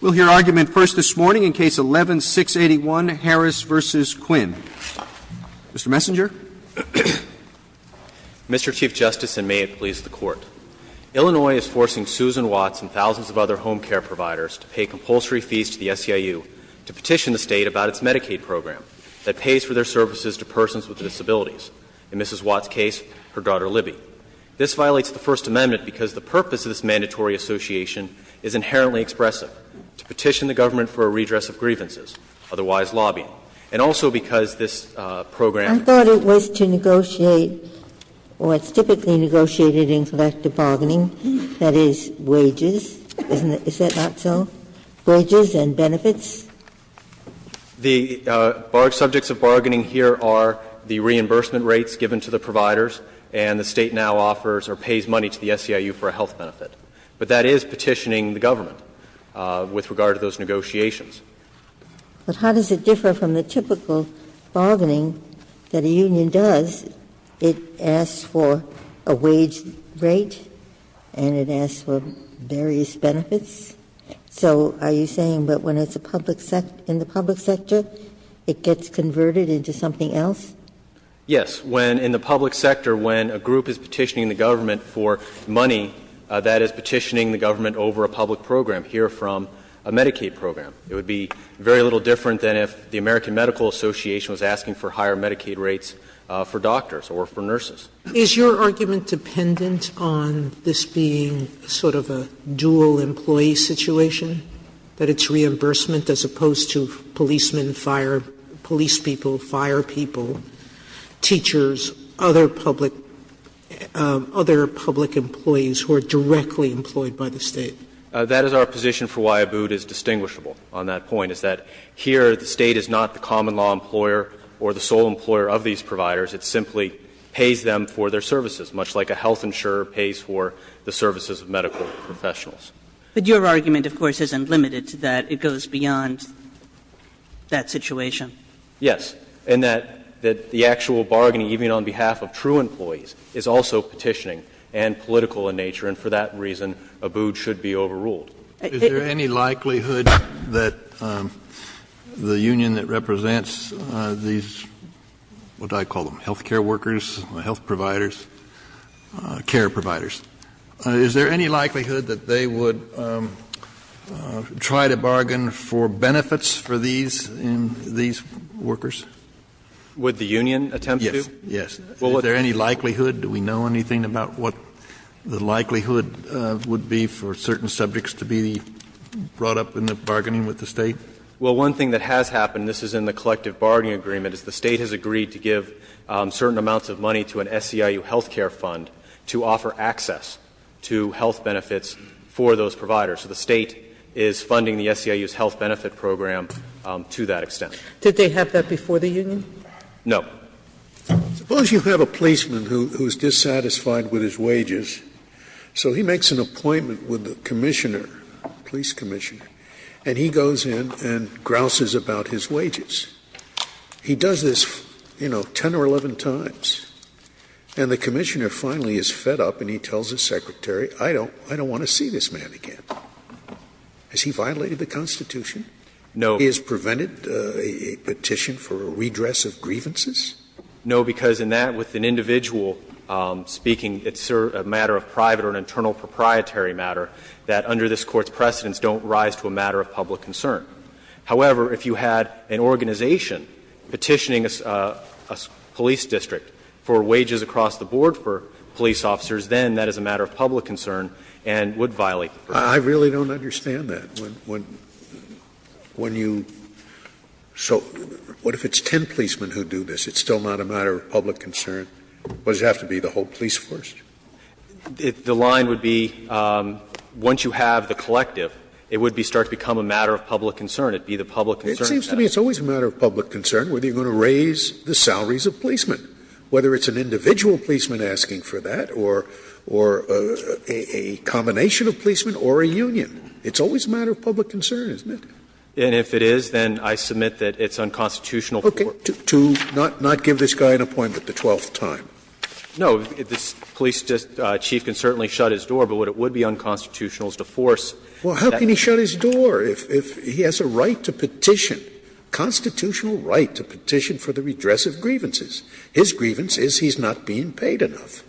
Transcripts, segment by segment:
We'll hear argument first this morning in Case 11-681, Harris v. Quinn. Mr. Messenger. Mr. Chief Justice, and may it please the Court. Illinois is forcing Susan Watts and thousands of other home care providers to pay compulsory fees to the SEIU to petition the State about its Medicaid program that pays for their services to persons with disabilities, in Mrs. Watts' case, her daughter Libby. This violates the First Amendment because the purpose of this mandatory association is inherently expressive, to petition the government for a redress of grievances, otherwise lobbying. And also because this program was to negotiate what's typically negotiated in collective bargaining, that is wages, isn't it, is that not so? Wages and benefits? The subjects of bargaining here are the reimbursement rates given to the providers, and the State now offers or pays money to the SEIU for a health benefit. But that is petitioning the government with regard to those negotiations. But how does it differ from the typical bargaining that a union does? It asks for a wage rate and it asks for various benefits. So are you saying that when it's a public sector, in the public sector, it gets converted into something else? Yes. In the public sector, when a group is petitioning the government for money, that is petitioning the government over a public program, here from a Medicaid program. It would be very little different than if the American Medical Association was asking for higher Medicaid rates for doctors or for nurses. Is your argument dependent on this being sort of a dual-employee situation, that it's reimbursement as opposed to policemen, fire — police people, fire people, teachers, other public — other public employees who are directly employed by the State? That is our position for why Abood is distinguishable on that point, is that here the State is not the common law employer or the sole employer of these providers. It simply pays them for their services, much like a health insurer pays for the services of medical professionals. But your argument, of course, isn't limited to that. It goes beyond that situation. Yes. And that the actual bargaining, even on behalf of true employees, is also petitioning and political in nature, and for that reason, Abood should be overruled. Is there any likelihood that the union that represents these, what did I call them, health care workers, health providers, care providers, is there any likelihood that they would try to bargain for benefits for these workers? Would the union attempt to? Yes. Yes. Is there any likelihood? Do we know anything about what the likelihood would be for certain subjects to be brought up in the bargaining with the State? Well, one thing that has happened, this is in the collective bargaining agreement, is the State has agreed to give certain amounts of money to an SEIU health care fund to offer access to health benefits for those providers. So the State is funding the SEIU's health benefit program to that extent. Did they have that before the union? No. Suppose you have a policeman who is dissatisfied with his wages, so he makes an appointment with the commissioner, police commissioner, and he goes in and grouses about his wages. He does this, you know, 10 or 11 times, and the commissioner finally is fed up and he tells his secretary, I don't want to see this man again. Has he violated the Constitution? No. Has he prevented a petition for a redress of grievances? No, because in that, with an individual speaking, it's a matter of private or an internal proprietary matter that under this Court's precedents don't rise to a matter of public concern. However, if you had an organization petitioning a police district for wages across the board for police officers, then that is a matter of public concern and would violate the Constitution. I really don't understand that. Scalia, when you so, what if it's 10 policemen who do this, it's still not a matter of public concern, but does it have to be the whole police force? The line would be, once you have the collective, it would start to become a matter of public concern. It would be the public concern. It seems to me it's always a matter of public concern whether you're going to raise the salaries of policemen, whether it's an individual policeman asking for that or a combination of policemen or a union. It's always a matter of public concern, isn't it? And if it is, then I submit that it's unconstitutional for it. Okay. To not give this guy an appointment the twelfth time. No. This police chief can certainly shut his door, but what it would be unconstitutional is to force that. Well, how can he shut his door if he has a right to petition, constitutional right to petition for the redress of grievances? His grievance is he's not being paid enough.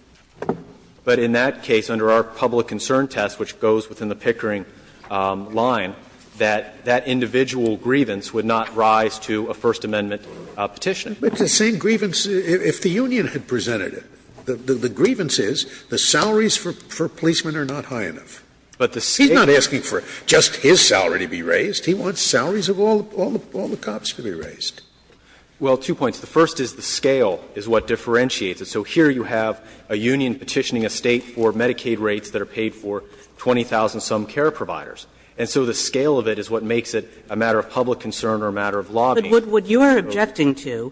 But in that case, under our public concern test, which goes within the Pickering line, that that individual grievance would not rise to a First Amendment petition. But the same grievance, if the union had presented it, the grievance is the salaries for policemen are not high enough. But the scale is not high enough. He's not asking for just his salary to be raised. He wants salaries of all the cops to be raised. Well, two points. The first is the scale is what differentiates it. So here you have a union petitioning a State for Medicaid rates that are paid for 20,000-some care providers. And so the scale of it is what makes it a matter of public concern or a matter of law being used to go. Kagan – But what you're objecting to,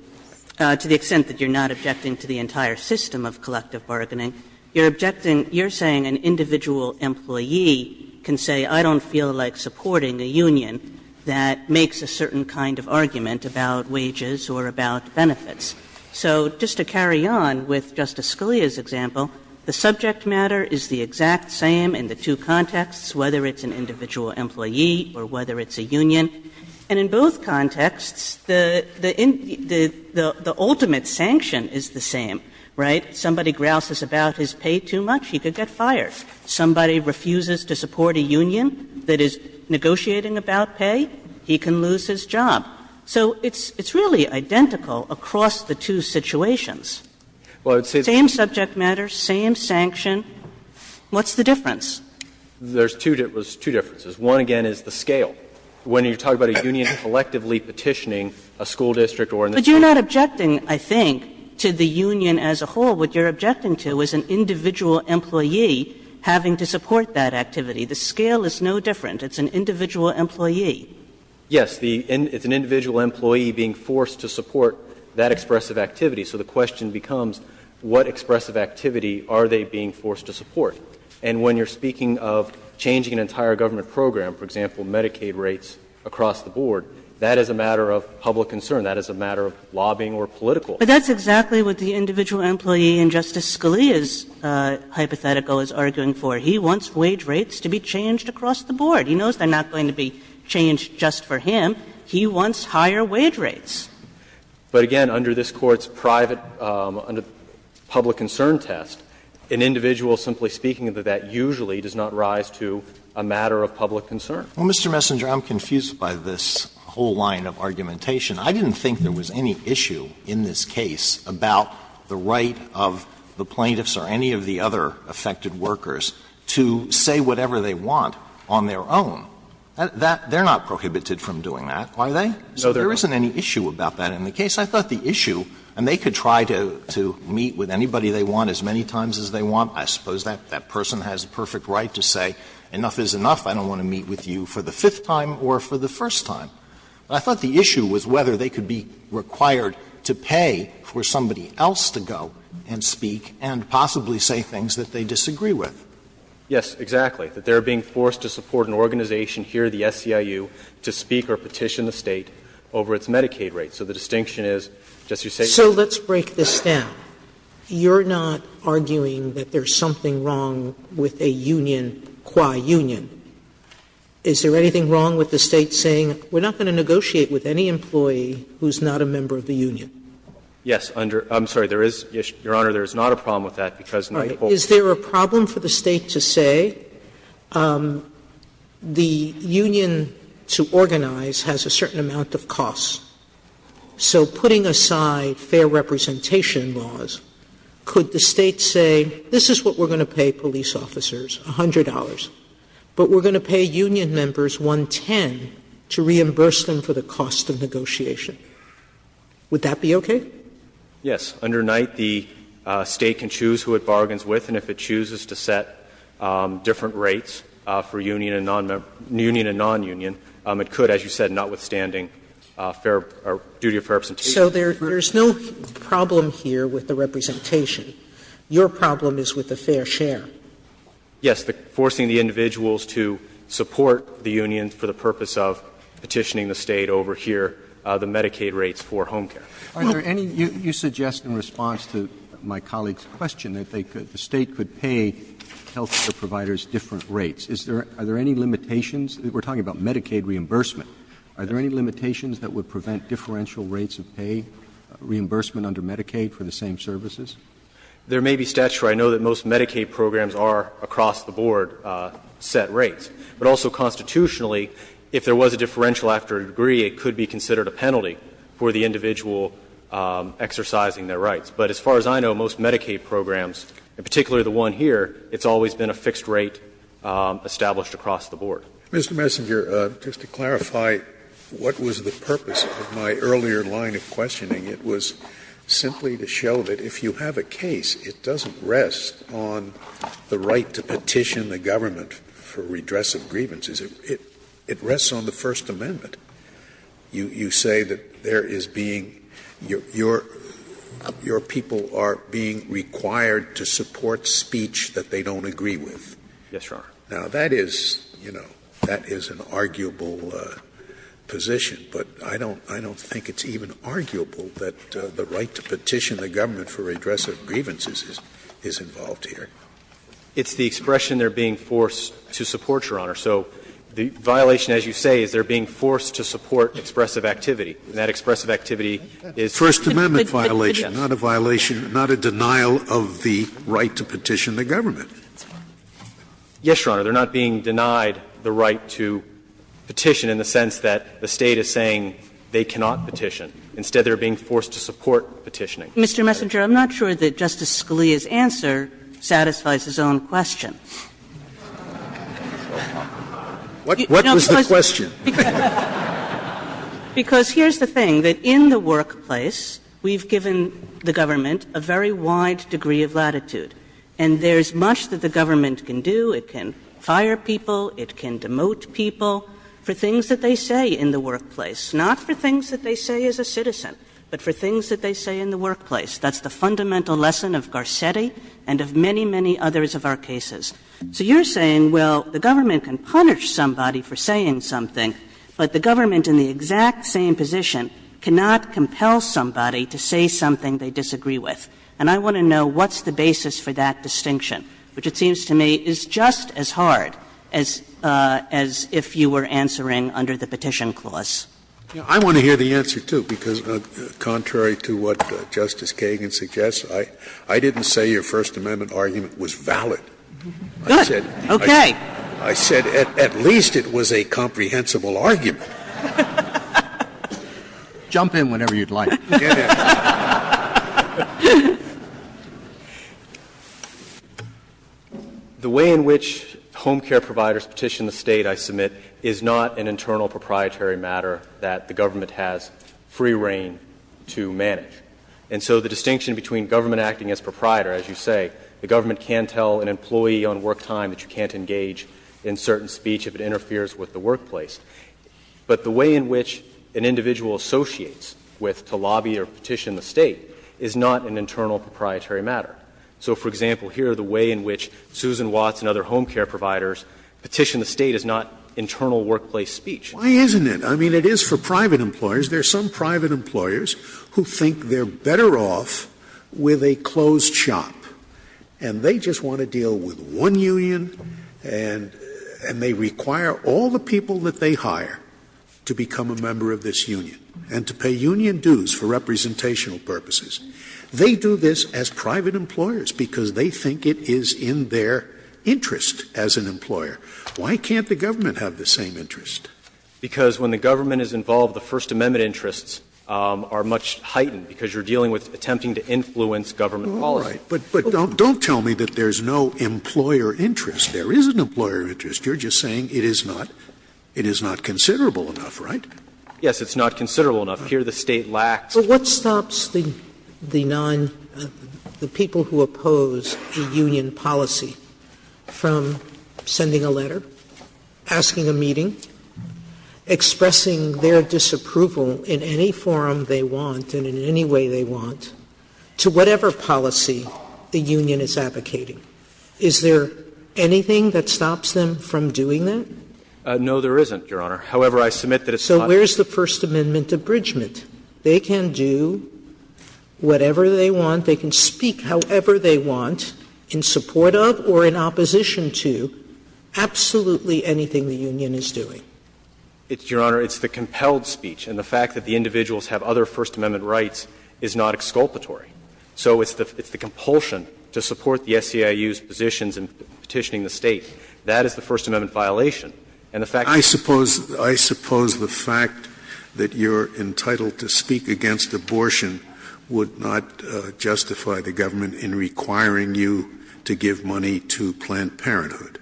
to the extent that you're not objecting to the entire system of collective bargaining, you're objecting, you're saying an individual employee can say, I don't feel like supporting a union that makes a certain kind of argument about wages or about benefits. So just to carry on with Justice Scalia's example, the subject matter is the exact same in the two contexts, whether it's an individual employee or whether it's a union. And in both contexts, the ultimate sanction is the same, right? Somebody grouses about his pay too much, he could get fired. Somebody refuses to support a union that is negotiating about pay, he can lose his job. So it's really identical across the two situations. Same subject matter, same sanction. What's the difference? There's two differences. One, again, is the scale. When you talk about a union collectively petitioning a school district or an institution But you're not objecting, I think, to the union as a whole. What you're objecting to is an individual employee having to support that activity. The scale is no different. It's an individual employee. Yes. It's an individual employee being forced to support that expressive activity. So the question becomes, what expressive activity are they being forced to support? And when you're speaking of changing an entire government program, for example, Medicaid rates across the board, that is a matter of public concern. That is a matter of lobbying or political. But that's exactly what the individual employee in Justice Scalia's hypothetical is arguing for. He wants wage rates to be changed across the board. He knows they're not going to be changed just for him. He wants higher wage rates. But, again, under this Court's private public concern test, an individual, simply speaking of that, usually does not rise to a matter of public concern. Well, Mr. Messenger, I'm confused by this whole line of argumentation. I didn't think there was any issue in this case about the right of the plaintiffs or any of the other affected workers to say whatever they want on their own. They're not prohibited from doing that, are they? So there isn't any issue about that in the case. I thought the issue, and they could try to meet with anybody they want as many times as they want. I suppose that person has the perfect right to say, enough is enough, I don't want to meet with you for the fifth time or for the first time. I thought the issue was whether they could be required to pay for somebody else to go and speak and possibly say things that they disagree with. Yes, exactly, that they're being forced to support an organization here, the SEIU, to speak or petition the State over its Medicaid rates. So the distinction is, just as you say, Sotomayor So let's break this down. You're not arguing that there's something wrong with a union, qua union. Is there anything wrong with the State saying, we're not going to negotiate with any employee who's not a member of the union? Yes. I'm sorry, there is, Your Honor, there is not a problem with that, because Sotomayor Is there a problem for the State to say the union to organize has a certain amount of cost? So putting aside fair representation laws, could the State say, this is what we're going to pay police officers, $100, but we're going to pay union members $110 to reimburse them for the cost of negotiation? Would that be okay? Yes. Under Knight, the State can choose who it bargains with, and if it chooses to set different rates for union and non-union, it could, as you said, notwithstanding fair or duty of fair representation. Sotomayor So there's no problem here with the representation. Your problem is with the fair share. Yes. Forcing the individuals to support the union for the purpose of petitioning the State over here the Medicaid rates for home care. Are there any, you suggest in response to my colleague's question, that they could, the State could pay health care providers different rates. Is there, are there any limitations? We're talking about Medicaid reimbursement. Are there any limitations that would prevent differential rates of pay, reimbursement under Medicaid for the same services? There may be statutes where I know that most Medicaid programs are, across the board, set rates. But also constitutionally, if there was a differential after a degree, it could be considered a penalty for the individual exercising their rights. But as far as I know, most Medicaid programs, and particularly the one here, it's always been a fixed rate established across the board. Scalia Mr. Messenger, just to clarify what was the purpose of my earlier line of questioning, it was simply to show that if you have a case, it doesn't rest on the right to petition the government for redress of grievances. It rests on the First Amendment. You say that there is being, your people are being required to support speech that they don't agree with. Messenger Yes, Your Honor. Scalia Now, that is, you know, that is an arguable position. But I don't think it's even arguable that the right to petition the government for redress of grievances is involved here. Messenger It's the expression they're being forced to support, Your Honor. So the violation, as you say, is they're being forced to support expressive activity. And that expressive activity is not a violation, not a denial of the right to petition the government. Messenger Yes, Your Honor. They're not being denied the right to petition in the sense that the State is saying they cannot petition. Instead, they're being forced to support petitioning. Kagan Mr. Messenger, I'm not sure that Justice Scalia's answer satisfies his own question. Messenger What was the question? Kagan Because here's the thing. That in the workplace, we've given the government a very wide degree of latitude. And there's much that the government can do. It can fire people. It can demote people for things that they say in the workplace. Not for things that they say as a citizen, but for things that they say in the workplace. That's the fundamental lesson of Garcetti and of many, many others of our cases. So you're saying, well, the government can punish somebody for saying something, but the government in the exact same position cannot compel somebody to say something they disagree with. And I want to know what's the basis for that distinction, which it seems to me is just as hard as if you were answering under the Petition Clause. Scalia I want to hear the answer, too, because contrary to what Justice Kagan suggests, I didn't say your First Amendment argument was valid. I said at least it was a comprehensible argument. Kagan Jump in whenever you'd like. The way in which home care providers petition the State, I submit, is not an internal proprietary matter that the government has free reign to manage. And so the distinction between government acting as proprietor, as you say, the government can tell an employee on work time that you can't engage in certain speech if it interferes with the workplace. But the way in which an individual associates with to lobby for a certain kind of work or lobby or petition the State is not an internal proprietary matter. So, for example, here, the way in which Susan Watts and other home care providers petition the State is not internal workplace speech. Scalia Why isn't it? I mean, it is for private employers. There are some private employers who think they're better off with a closed shop, and they just want to deal with one union, and they require all the people that they have to do it for representational purposes. They do this as private employers, because they think it is in their interest as an employer. Why can't the government have the same interest? Because when the government is involved, the First Amendment interests are much heightened, because you're dealing with attempting to influence government policy. But don't tell me that there's no employer interest. There is an employer interest. You're just saying it is not considerable enough, right? Yes, it's not considerable enough. Here, the State lacks. Sotomayor But what stops the non – the people who oppose the union policy from sending a letter, asking a meeting, expressing their disapproval in any forum they want and in any way they want to whatever policy the union is advocating? Is there anything that stops them from doing that? No, there isn't, Your Honor. However, I submit that it's not So where is the First Amendment abridgment? They can do whatever they want. They can speak however they want in support of or in opposition to absolutely anything the union is doing. Your Honor, it's the compelled speech. And the fact that the individuals have other First Amendment rights is not exculpatory. So it's the compulsion to support the SEIU's positions in petitioning the State. That is the First Amendment violation. And the fact that I suppose the fact that you're entitled to speak against abortion would not justify the government in requiring you to give money to Planned Parenthood.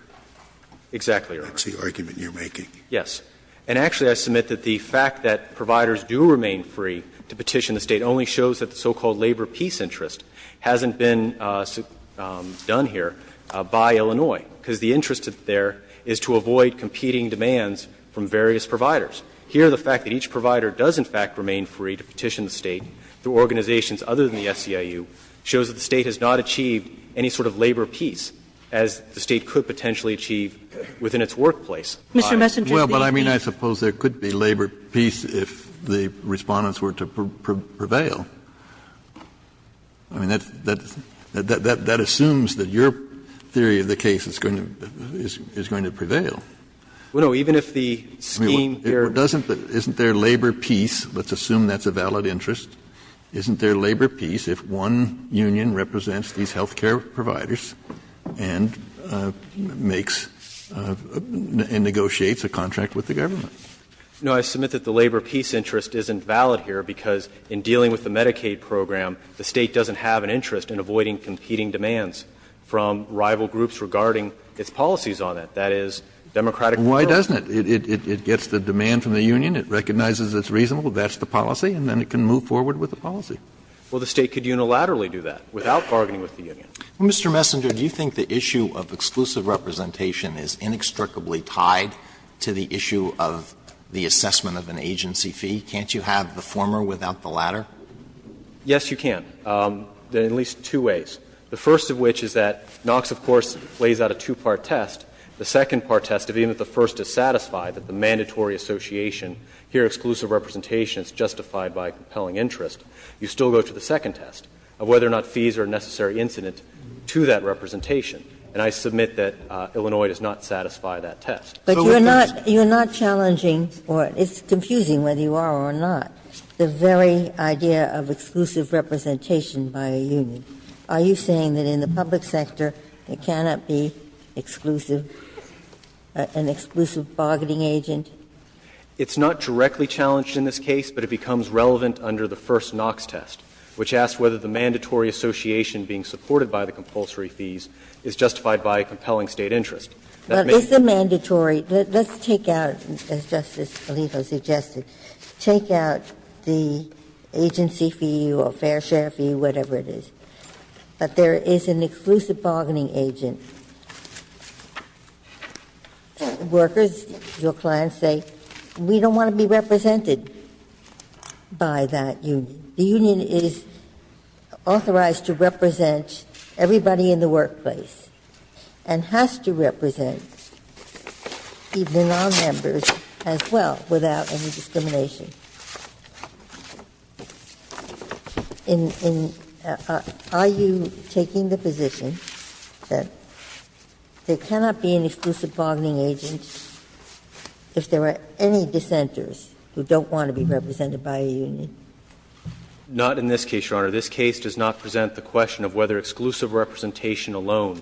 Exactly, Your Honor. That's the argument you're making. Yes. And actually, I submit that the fact that providers do remain free to petition the State only shows that the so-called labor peace interest hasn't been done here by Illinois, because the interest there is to avoid competing demands from various providers. Here, the fact that each provider does in fact remain free to petition the State through organizations other than the SEIU shows that the State has not achieved any sort of labor peace as the State could potentially achieve within its workplace. Mr. Messenger, do you agree? Well, but I mean, I suppose there could be labor peace if the Respondents were to prevail. I mean, that assumes that your theory of the case is going to prevail. Well, no. Even if the scheme here doesn't. Isn't there labor peace? Let's assume that's a valid interest. Isn't there labor peace if one union represents these health care providers and makes and negotiates a contract with the government? No. And so I submit that the labor peace interest isn't valid here, because in dealing with the Medicaid program, the State doesn't have an interest in avoiding competing demands from rival groups regarding its policies on it. That is, democratic control. Well, why doesn't it? It gets the demand from the union, it recognizes it's reasonable, that's the policy, and then it can move forward with the policy. Well, the State could unilaterally do that without bargaining with the union. Mr. Messenger, do you think the issue of exclusive representation is inextricably tied to the issue of the assessment of an agency fee? Can't you have the former without the latter? Yes, you can, in at least two ways. The first of which is that Knox, of course, lays out a two-part test. The second part test, even if the first is satisfied, that the mandatory association here, exclusive representation, is justified by compelling interest, you still go to the second test of whether or not fees are a necessary incident to that representation. And I submit that Illinois does not satisfy that test. But you're not challenging, or it's confusing whether you are or not, the very idea of exclusive representation by a union. Are you saying that in the public sector it cannot be exclusive, an exclusive bargaining agent? It's not directly challenged in this case, but it becomes relevant under the first Knox test, which asks whether the mandatory association being supported by the compulsory fees is justified by compelling State interest. Well, it's a mandatory. Let's take out, as Justice Alito suggested, take out the agency fee or fair share fee, whatever it is, that there is an exclusive bargaining agent. Workers, your clients say, we don't want to be represented by that union. The union is authorized to represent everybody in the workplace and has to represent even nonmembers as well without any discrimination. Are you taking the position that there cannot be an exclusive bargaining agent if there are any dissenters who don't want to be represented by a union? Not in this case, Your Honor. This case does not present the question of whether exclusive representation alone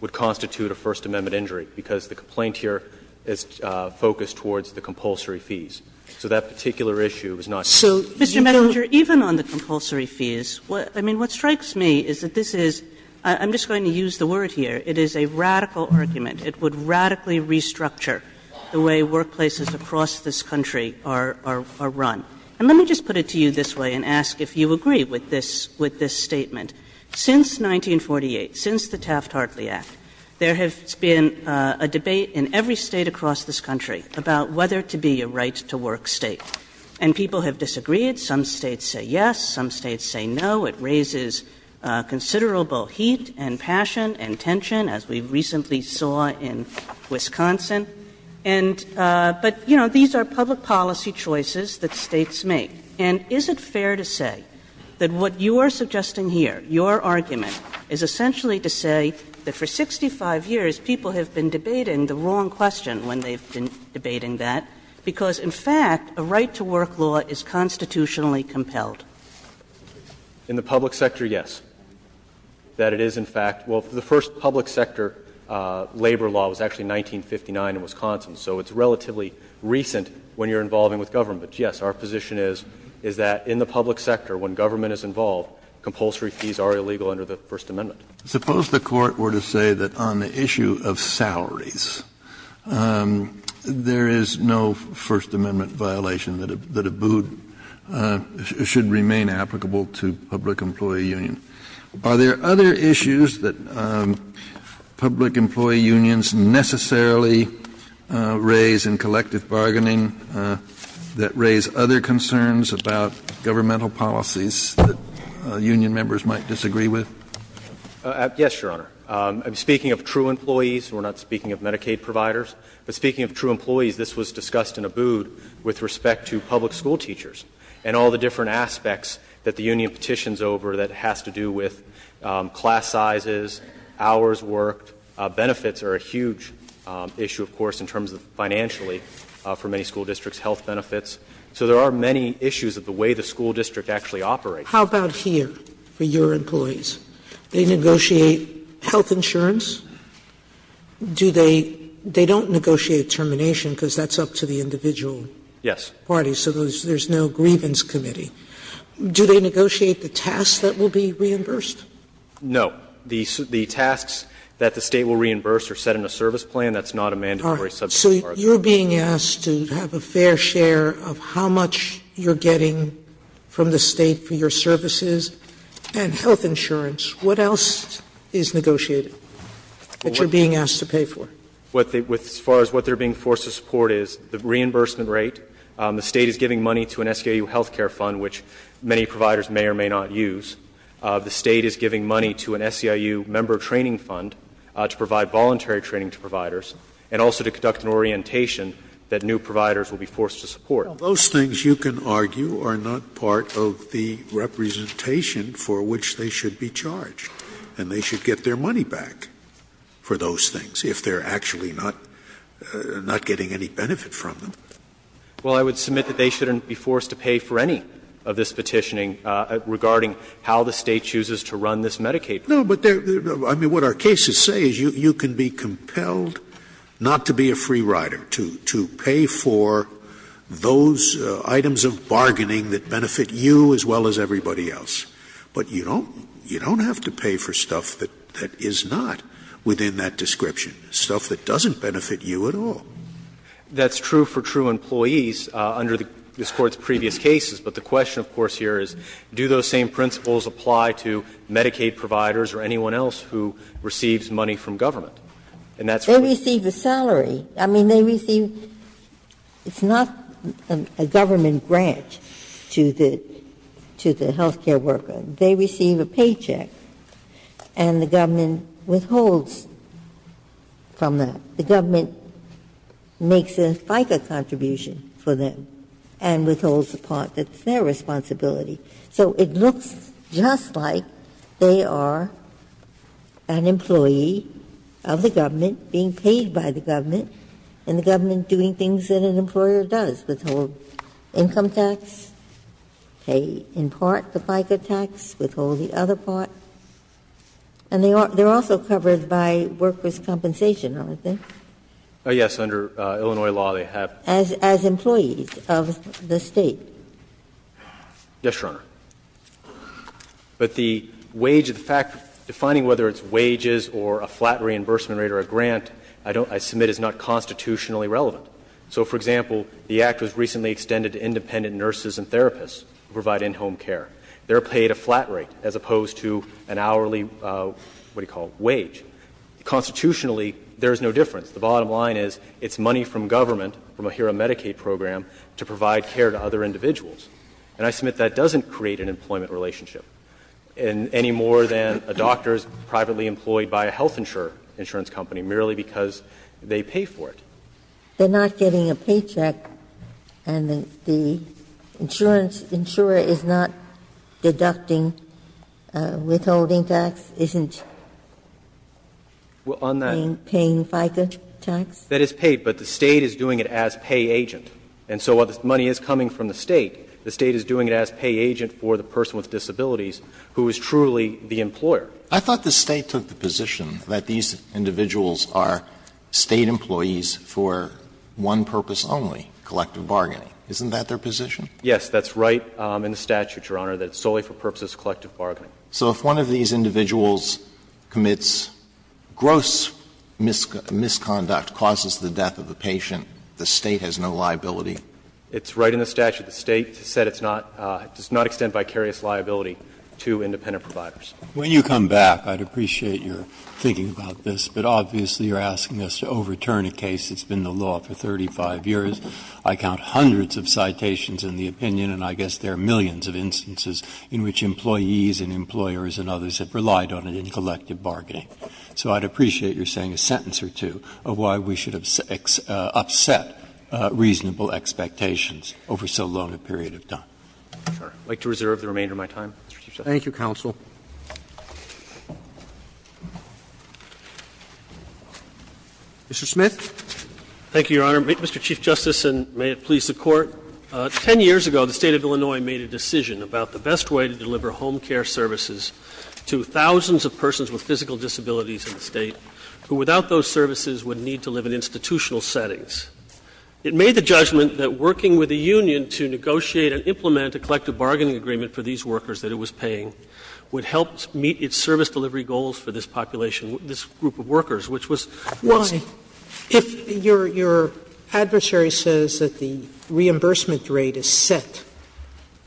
would constitute a First Amendment injury, because the complaint here is focused towards the compulsory fees. So that particular issue is not used. So you don't So, Mr. Mettinger, even on the compulsory fees, what strikes me is that this is, I'm just going to use the word here, it is a radical argument. It would radically restructure the way workplaces across this country are run. And let me just put it to you this way and ask if you agree with this statement. Since 1948, since the Taft-Hartley Act, there has been a debate in every state across this country about whether to be a right-to-work state. And people have disagreed. Some states say yes, some states say no. It raises considerable heat and passion and tension, as we recently saw in Wisconsin. And but, you know, these are public policy choices that states make. And is it fair to say that what you are suggesting here, your argument, is essentially to say that for 65 years people have been debating the wrong question when they've been debating that, because in fact a right-to-work law is constitutionally compelled? In the public sector, yes. That it is in fact the first public sector labor law was actually in 1959 in Wisconsin. So it's relatively recent when you're involving with government. But yes, our position is, is that in the public sector, when government is involved, compulsory fees are illegal under the First Amendment. Kennedy, Suppose the Court were to say that on the issue of salaries, there is no First Amendment violation, that a boot should remain applicable to public employee union. Are there other issues that public employee unions necessarily raise in collective bargaining that raise other concerns about governmental policies that union members might disagree with? Yes, Your Honor. Speaking of true employees, we're not speaking of Medicaid providers, but speaking of true employees, this was discussed in Abood with respect to public schoolteachers and all the different aspects that the union petitions over that has to do with class sizes, hours worked. Benefits are a huge issue, of course, in terms of financially, for many school districts, health benefits. So there are many issues of the way the school district actually operates. How about here for your employees? They negotiate health insurance? Do they don't negotiate termination, because that's up to the individual party. Yes. So there's no grievance committee. Do they negotiate the tasks that will be reimbursed? No. The tasks that the State will reimburse are set in a service plan. That's not a mandatory subject charge. So you're being asked to have a fair share of how much you're getting from the State for your services and health insurance. What else is negotiated that you're being asked to pay for? As far as what they're being forced to support is the reimbursement rate. The State is giving money to an SKU health care fund, which many providers may or may not use. The State is giving money to an SEIU member training fund to provide voluntary training to providers and also to conduct an orientation that new providers will be forced to support. Scalia, those things, you can argue, are not part of the representation for which they should be charged. And they should get their money back for those things, if they're actually not getting any benefit from them. Well, I would submit that they shouldn't be forced to pay for any of this petitioning regarding how the State chooses to run this Medicaid program. No, but there are, I mean, what our cases say is you can be compelled not to be a free rider, to pay for those items of bargaining that benefit you as well as everybody else. But you don't have to pay for stuff that is not within that description, stuff that doesn't benefit you at all. That's true for true employees under this Court's previous cases. But the question, of course, here is, do those same principles apply to Medicaid providers or anyone else who receives money from government? And that's what we see. They receive a salary. I mean, they receive, it's not a government grant to the healthcare worker. They receive a paycheck and the government withholds from that. The government makes a FICA contribution for them and withholds the part that's their responsibility. So it looks just like they are an employee of the government being paid by the government and the government doing things that an employer does, withhold income tax, pay in part the FICA tax, withhold the other part. And they are also covered by workers' compensation, aren't they? Yes. Under Illinois law, they have. As employees of the State? Yes, Your Honor. But the wage, the fact, defining whether it's wages or a flat reimbursement rate or a grant, I don't, I submit is not constitutionally relevant. So, for example, the Act was recently extended to independent nurses and therapists who provide in-home care. They are paid a flat rate as opposed to an hourly, what do you call it, wage. Constitutionally, there is no difference. The bottom line is it's money from government, from a HERA Medicaid program, to provide care to other individuals. And I submit that doesn't create an employment relationship, any more than a doctor is privately employed by a health insurance company merely because they pay for it. They are not getting a paycheck and the insurance insurer is not deducting withholding tax, isn't paying FICA tax? Well, on that, that is paid, but the State is doing it as pay agent. And so while this money is coming from the State, the State is doing it as pay agent for the person with disabilities who is truly the employer. Alito, I thought the State took the position that these individuals are State employees for one purpose only, collective bargaining. Isn't that their position? Yes, that's right in the statute, Your Honor, that it's solely for purposes of collective bargaining. So if one of these individuals commits gross misconduct, causes the death of a patient, the State has no liability? It's right in the statute. The State said it's not, does not extend vicarious liability to independent providers. When you come back, I'd appreciate your thinking about this, but obviously you're asking us to overturn a case that's been the law for 35 years. I count hundreds of citations in the opinion and I guess there are millions of instances in which employees and employers and others have relied on it in collective bargaining. So I'd appreciate your saying a sentence or two of why we should have upset reasonable expectations over so long a period of time. I'd like to reserve the remainder of my time, Mr. Chief Justice. Thank you, counsel. Mr. Smith. Thank you, Your Honor. Mr. Chief Justice, and may it please the Court, 10 years ago the State of Illinois made a decision about the best way to deliver home care services to thousands of persons with physical disabilities in the State who, without those services, would need to live in institutional settings. The collective bargaining agreement for these workers that it was paying would help meet its service delivery goals for this population, this group of workers, which was once. Sotomayor, if your adversary says that the reimbursement rate is set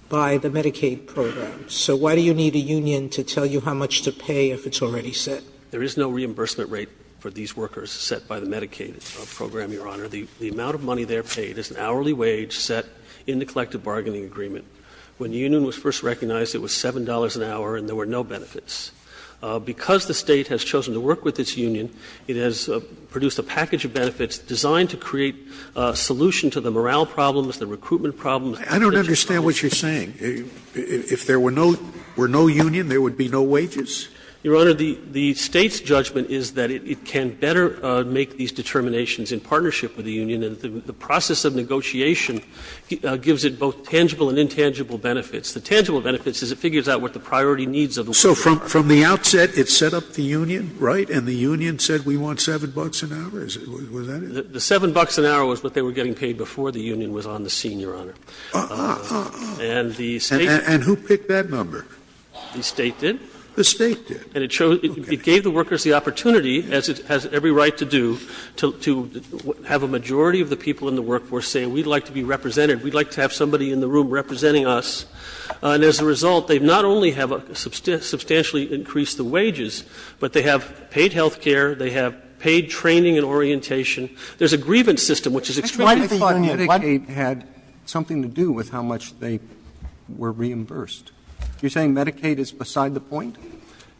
by the Medicaid program, so why do you need a union to tell you how much to pay if it's already set? There is no reimbursement rate for these workers set by the Medicaid program, Your Honor. The amount of money they're paid is an hourly wage set in the collective bargaining agreement. When the union was first recognized, it was $7 an hour and there were no benefits. Because the State has chosen to work with its union, it has produced a package of benefits designed to create a solution to the morale problems, the recruitment problems. I don't understand what you're saying. If there were no union, there would be no wages? Your Honor, the State's judgment is that it can better make these determinations in partnership with the union, and the process of negotiation gives it both tangible and intangible benefits. The tangible benefits is it figures out what the priority needs of the worker are. So from the outset, it set up the union, right, and the union said we want $7 an hour? Was that it? The $7 an hour was what they were getting paid before the union was on the scene, Your Honor. And the State did. And who picked that number? The State did. The State did. And it gave the workers the opportunity, as it has every right to do, to have a majority of the people in the workforce say, we'd like to be represented, we'd like to have somebody in the room representing us. And as a result, they not only have substantially increased the wages, but they have paid health care, they have paid training and orientation. There's a grievance system, which is extremely important. Why do you think Medicaid had something to do with how much they were reimbursed? You're saying Medicaid is beside the point?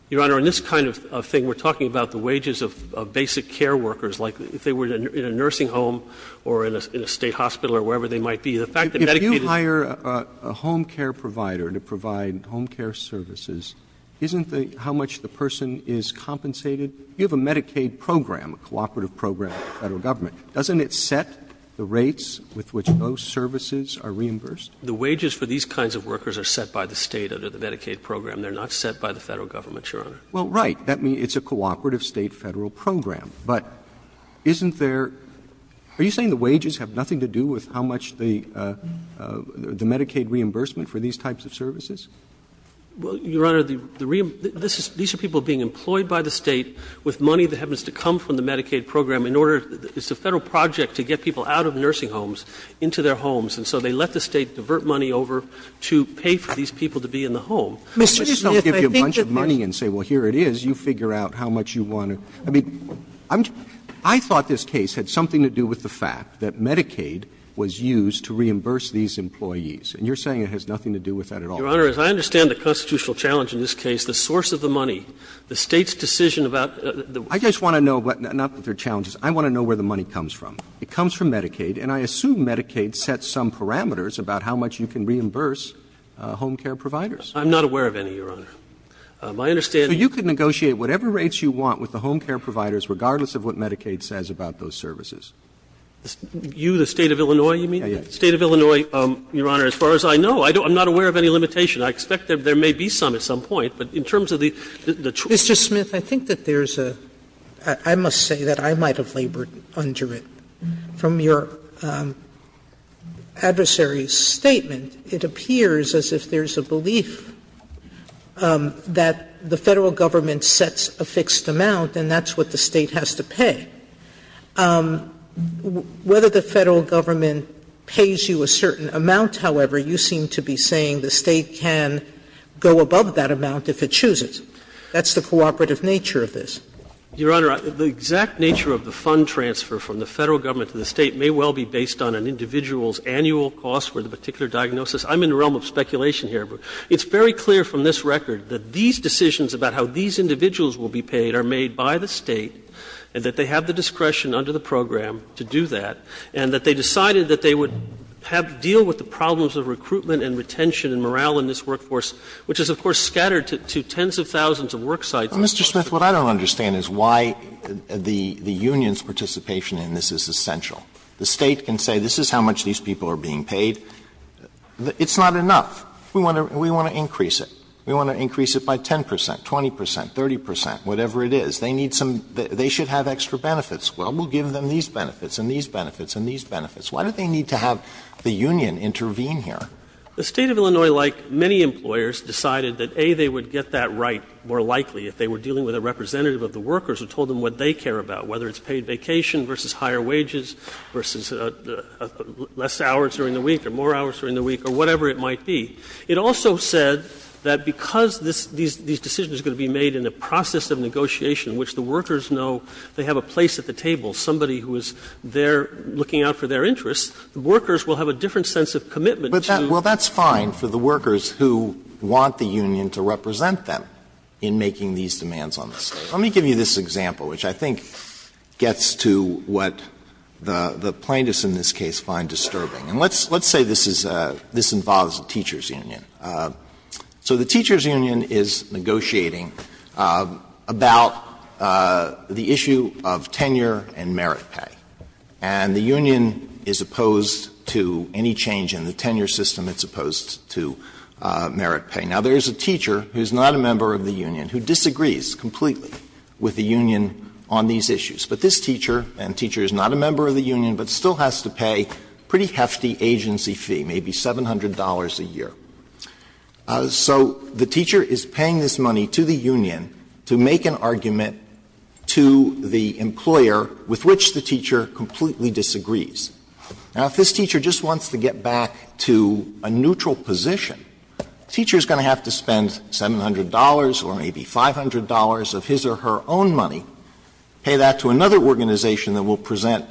Your Honor, in this kind of thing, we're talking about the wages of basic care workers, like if they were in a nursing home or in a State hospital or wherever they might be. If you hire a home care provider to provide home care services, isn't how much the person is compensated? You have a Medicaid program, a cooperative program of the Federal Government. Doesn't it set the rates with which those services are reimbursed? The wages for these kinds of workers are set by the State under the Medicaid program. They're not set by the Federal Government, Your Honor. Well, right. That means it's a cooperative State-Federal program. But isn't there – are you saying the wages have nothing to do with how much the Medicaid reimbursement for these types of services? Well, Your Honor, the reimbursement – these are people being employed by the State with money that happens to come from the Medicaid program in order – it's a Federal project to get people out of nursing homes into their homes. And so they let the State divert money over to pay for these people to be in the home. I mean, they don't give you a bunch of money and say, well, here it is. You figure out how much you want to – I mean, I thought this case had something to do with the fact that Medicaid was used to reimburse these employees, and you're saying it has nothing to do with that at all. Your Honor, as I understand the constitutional challenge in this case, the source of the money, the State's decision about the – I just want to know what – not that there are challenges. I want to know where the money comes from. It comes from Medicaid, and I assume Medicaid sets some parameters about how much you can reimburse home care providers. My understanding is that the State's decision about the source of the money is based And so I would appreciate whatever rates you want with the home care providers, regardless of what Medicaid says about those services. You, the State of Illinois, you mean? Yes. State of Illinois, Your Honor, as far as I know, I'm not aware of any limitation. I expect that there may be some at some point, but in terms of the – Mr. Smith, I think that there's a – I must say that I might have labored under it. From your adversary's statement, it appears as if there's a belief that the Federal Government sets a fixed amount, and that's what the State has to pay. Whether the Federal Government pays you a certain amount, however, you seem to be saying the State can go above that amount if it chooses. That's the cooperative nature of this. Your Honor, the exact nature of the fund transfer from the Federal Government to the State may well be based on an individual's annual cost for the particular diagnosis. I'm in the realm of speculation here, but it's very clear from this record that these decisions about how these individuals will be paid are made by the State, and that they have the discretion under the program to do that, and that they decided that they would deal with the problems of recruitment and retention and morale in this workforce, which is, of course, scattered to tens of thousands of work sites. Mr. Smith, what I don't understand is why the union's participation in this is essential. The State can say this is how much these people are being paid. It's not enough. We want to increase it. We want to increase it by 10 percent, 20 percent, 30 percent, whatever it is. They need some they should have extra benefits. Well, we'll give them these benefits and these benefits and these benefits. Why do they need to have the union intervene here? The State of Illinois, like many employers, decided that, A, they would get that right more likely if they were dealing with a representative of the workers who told them what they care about, whether it's paid vacation versus higher wages versus less hours during the week or more hours during the week or whatever it might be. It also said that because this — these decisions are going to be made in a process of negotiation in which the workers know they have a place at the table, somebody who is there looking out for their interests, the workers will have a different sense of commitment to you. Well, that's fine for the workers who want the union to represent them. It's fine for the workers who want the union to represent them. It's fine for the workers who want the union to represent them in making these demands on the State. Let me give you this example, which I think gets to what the plaintiffs in this case find disturbing. And let's say this is a — this involves a teacher's union. So the teacher's union is negotiating about the issue of tenure and merit pay. And the union is opposed to any change in the tenure system. It's opposed to merit pay. Now, there is a teacher who is not a member of the union, who disagrees completely with the union on these issues. But this teacher, and the teacher is not a member of the union, but still has to pay a pretty hefty agency fee, maybe $700 a year. So the teacher is paying this money to the union to make an argument to the employer with which the teacher completely disagrees. Now, if this teacher just wants to get back to a neutral position, the teacher is going to have to spend $700 or maybe $500 of his or her own money, pay that to another organization that will present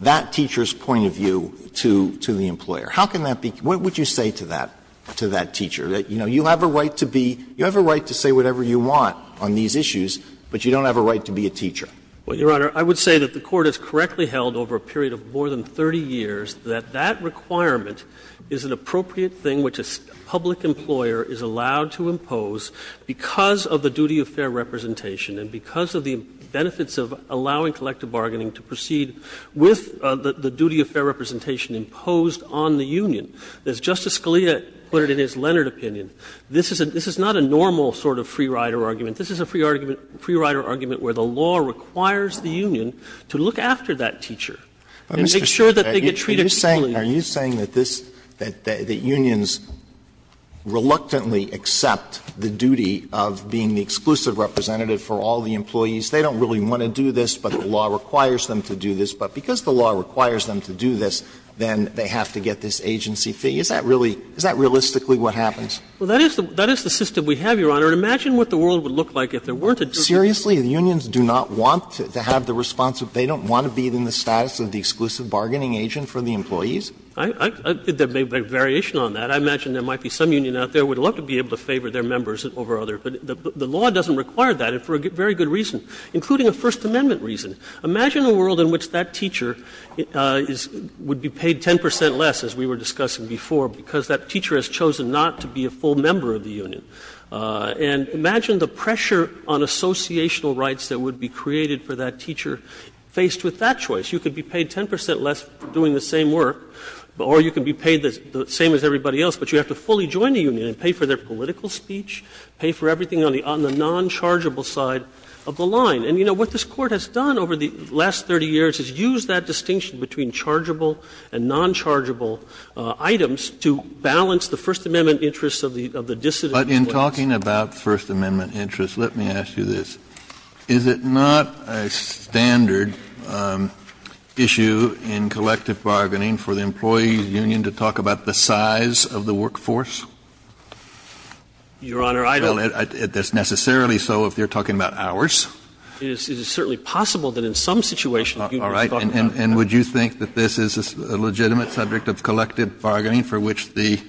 that teacher's point of view to the employer. How can that be — what would you say to that teacher, that, you know, you have a right to be — you have a right to say whatever you want on these issues, but you don't have a right to be a teacher? Well, Your Honor, I would say that the Court has correctly held over a period of more than 30 years that that requirement is an appropriate thing which a public employer is allowed to impose because of the duty of fair representation and because of the benefits of allowing collective bargaining to proceed with the duty of fair representation imposed on the union. As Justice Scalia put it in his Leonard opinion, this is not a normal sort of free rider argument. This is a free rider argument where the law requires the union to look after that teacher and make sure that they get treated equally. Are you saying that this — that unions reluctantly accept the duty of being the exclusive representative for all the employees? They don't really want to do this, but the law requires them to do this. But because the law requires them to do this, then they have to get this agency fee. Is that really — is that realistically what happens? Well, that is the system we have, Your Honor. And imagine what the world would look like if there weren't a duty of fair representation. Alitoso, the unions do not want to have the responsibility — they don't want to be in the status of the exclusive bargaining agent for the employees? I think there may be a variation on that. I imagine there might be some union out there that would love to be able to favor their members over others. But the law doesn't require that, and for a very good reason, including a First Amendment reason. Imagine a world in which that teacher is — would be paid 10 percent less, as we were discussing before, because that teacher has chosen not to be a full member of the union. And imagine the pressure on associational rights that would be created for that teacher faced with that choice. You could be paid 10 percent less doing the same work, or you could be paid the same as everybody else, but you have to fully join the union and pay for their political speech, pay for everything on the non-chargeable side of the line. And, you know, what this Court has done over the last 30 years is use that distinction between chargeable and non-chargeable items to balance the First Amendment interests of the dissidents. Kennedy, I'm sorry, but in talking about First Amendment interests, let me ask you this. Is it not a standard issue in collective bargaining for the employees' union to talk about the size of the workforce? Your Honor, I don't think so. It's necessarily so if you're talking about hours. It is certainly possible that in some situations the union is talking about that. All right. And would you think that this is a legitimate subject of collective bargaining for which the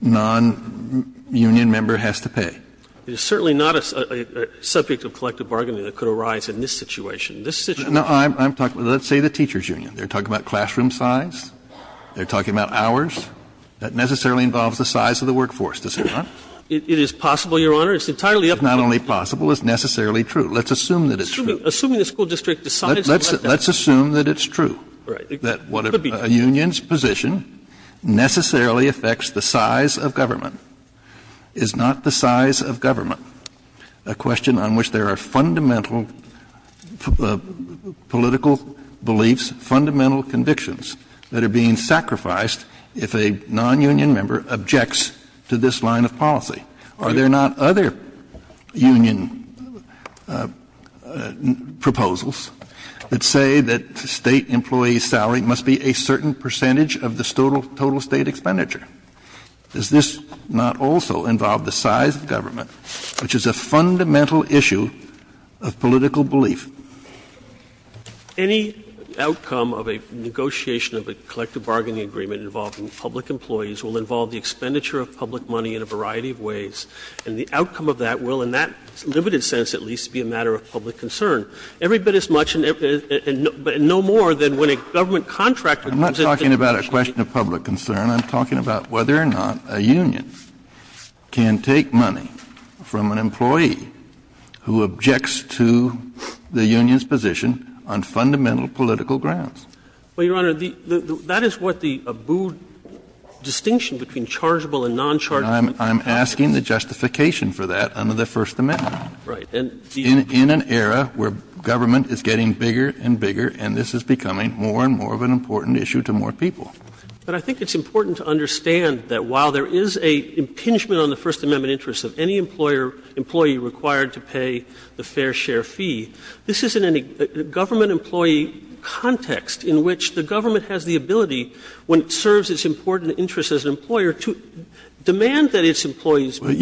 non-union member has to pay? It is certainly not a subject of collective bargaining that could arise in this situation. This situation Let's say the teachers' union. They're talking about classroom size. They're talking about hours. That necessarily involves the size of the workforce, does it not? It is possible, Your Honor. It's entirely up to the public. It's not only possible, it's necessarily true. Let's assume that it's true. Assuming the school district decides to let that happen. Let's assume that it's true. Right. That a union's position necessarily affects the size of government. Is not the size of government a question on which there are fundamental political beliefs, fundamental convictions that are being sacrificed if a non-union member objects to this line of policy? Are there not other union proposals that say that State employee's salary must be a certain percentage of the total State expenditure? Does this not also involve the size of government, which is a fundamental issue of political belief? Any outcome of a negotiation of a collective bargaining agreement involving public employees will involve the expenditure of public money in a variety of ways. And the outcome of that will, in that limited sense at least, be a matter of public concern. Every bit as much and no more than when a government contractor comes in to negotiate a union. I'm not talking about a question of public concern. I'm talking about whether or not a union can take money from an employee who objects to the union's position on fundamental political grounds. Well, Your Honor, that is what the Abood distinction between chargeable and nonchargeable means. I'm asking the justification for that under the First Amendment. Right. In an era where government is getting bigger and bigger and this is becoming more and more of an important issue to more people. But I think it's important to understand that while there is a impingement on the First Amendment interest of any employer employee required to pay the fair share fee, this isn't any government employee context in which the government has the ability, when it serves its important interest as an employer, to demand that its employees pay the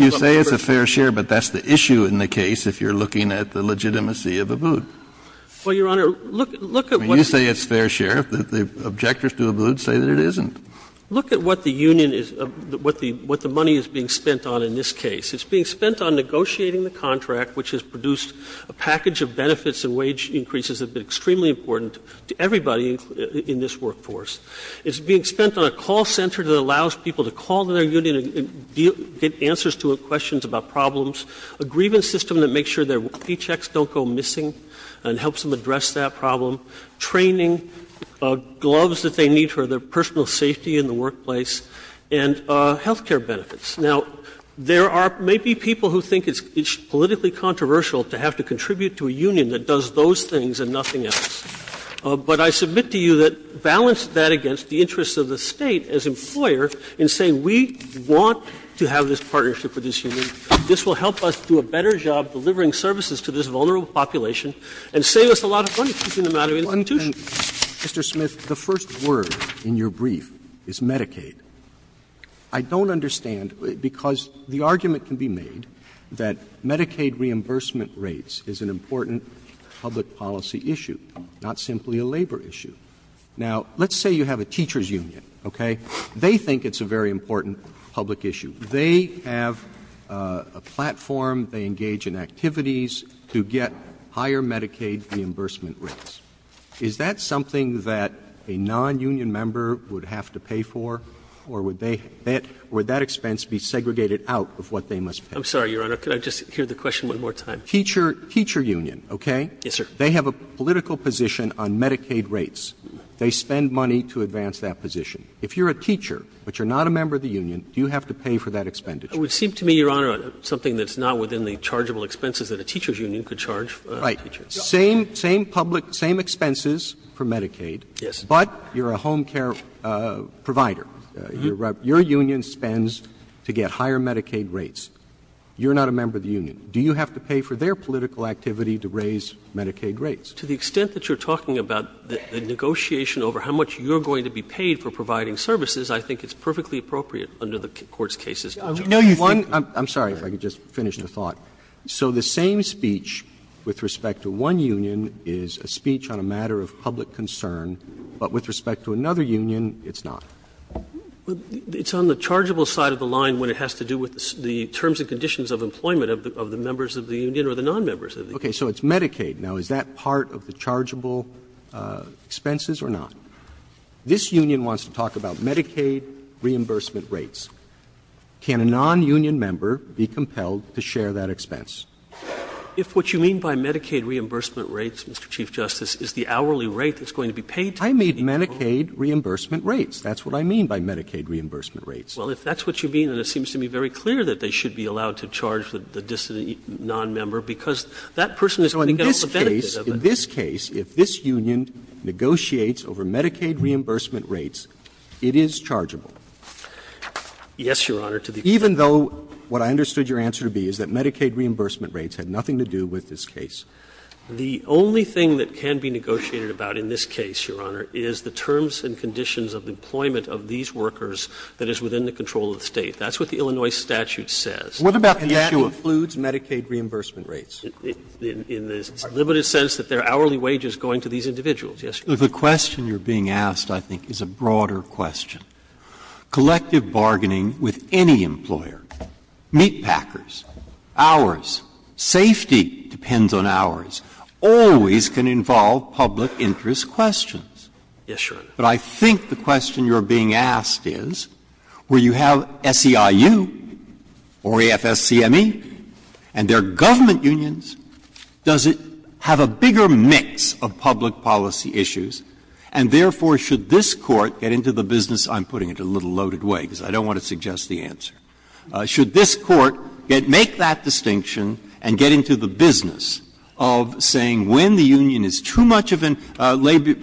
fair share fee. But that's the issue in the case if you're looking at the legitimacy of Abood. Well, Your Honor, look at what's been said. You say it's fair share. The objectors to Abood say that it isn't. Look at what the union is, what the money is being spent on in this case. It's being spent on negotiating the contract, which has produced a package of benefits and wage increases that have been extremely important to everybody in this workforce. It's being spent on a call center that allows people to call to their union and get answers to questions about problems, a grievance system that makes sure their fee checks don't go missing and helps them address that problem, training, gloves that they need for their personal safety in the workplace, and health care benefits. Now, there are maybe people who think it's politically controversial to have to contribute to a union that does those things and nothing else. But I submit to you that balance that against the interests of the State as employer in saying we want to have this partnership with this union, this will help us do a better job delivering services to this vulnerable population and save us a lot of money in the amount of institutions. Roberts. Mr. Smith, the first word in your brief is Medicaid. I don't understand, because the argument can be made that Medicaid reimbursement rates is an important public policy issue, not simply a labor issue. Now, let's say you have a teacher's union, okay? They think it's a very important public issue. They have a platform, they engage in activities to get higher Medicaid reimbursement rates. Is that something that a nonunion member would have to pay for? Or would that expense be segregated out of what they must pay? I'm sorry, Your Honor, could I just hear the question one more time? Teacher union, okay? Yes, sir. They have a political position on Medicaid rates. They spend money to advance that position. If you're a teacher but you're not a member of the union, do you have to pay for that expenditure? It would seem to me, Your Honor, something that's not within the chargeable expenses that a teacher's union could charge. Right. Same public, same expenses for Medicaid. Yes. But you're a home care provider. Your union spends to get higher Medicaid rates. You're not a member of the union. Do you have to pay for their political activity to raise Medicaid rates? To the extent that you're talking about the negotiation over how much you're going to be paid for providing services, I think it's perfectly appropriate under the Court's cases. No, you think one of the same speech with respect to one union is a speech on a matter of public concern, but with respect to another union, it's not. It's on the chargeable side of the line when it has to do with the terms and conditions of employment of the members of the union or the nonmembers of the union. Okay. So it's Medicaid. Now, is that part of the chargeable expenses or not? This union wants to talk about Medicaid reimbursement rates. Can a nonunion member be compelled to share that expense? If what you mean by Medicaid reimbursement rates, Mr. Chief Justice, is the hourly rate that's going to be paid to the union. I mean Medicaid reimbursement rates. That's what I mean by Medicaid reimbursement rates. Well, if that's what you mean, then it seems to me very clear that they should be allowed to charge the dissident nonmember because that person is going to get all the benefits of it. So in this case, if this union negotiates over Medicaid reimbursement rates, it is chargeable? Yes, Your Honor, to the extent that you're talking about the terms and conditions chargeable. And that includes Medicaid reimbursement rates. In the limited sense that there are hourly wages going to these individuals, yes, Your Honor. The question you're being asked, I think, is a broader question. Collective bargaining with any employer, meatpackers, ours, safety depends on ours, always can involve public interest questions. Yes, Your Honor. But I think the question you're being asked is, where you have SEIU or AFSCME and they're government unions, does it have a bigger mix of public policy issues and, therefore, should this Court get into the business of saying when the union is too much of a labor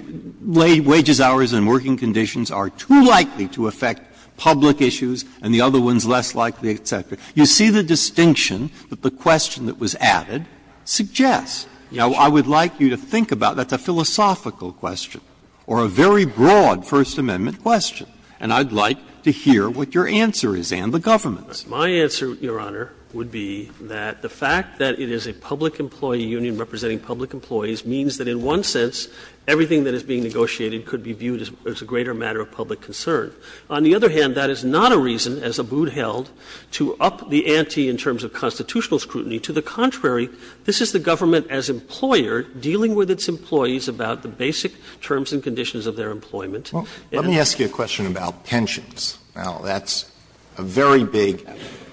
lay wages, hourly wages, and so on, should this Court get into the business of saying, well, the labor and working conditions are too likely to affect public issues and the other one is less likely, et cetera. You see the distinction that the question that was added suggests. Now, I would like you to think about that's a philosophical question or a very broad First Amendment question. And I'd like to hear what your answer is and the government's. My answer, Your Honor, would be that the fact that it is a public employee union representing public employees means that in one sense everything that is being negotiated could be viewed as a greater matter of public concern. On the other hand, that is not a reason, as Abood held, to up the ante in terms of constitutional scrutiny. To the contrary, this is the government as employer dealing with its employees about the basic terms and conditions of their employment. Alito, let me ask you a question about pensions. Now, that's a very big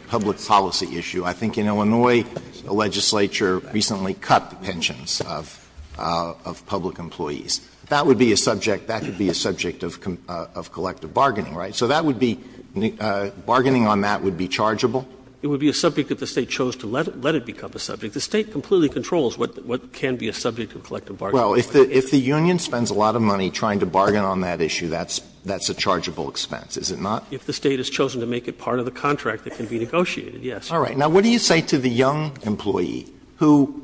public policy issue. I think in Illinois, the legislature recently cut the pensions of public employees. That would be a subject of collective bargaining, right? So that would be – bargaining on that would be chargeable? It would be a subject if the State chose to let it become a subject. The State completely controls what can be a subject of collective bargaining. Well, if the union spends a lot of money trying to bargain on that issue, that's a chargeable expense, is it not? If the State has chosen to make it part of the contract, it can be negotiated, yes. All right. Now, what do you say to the young employee who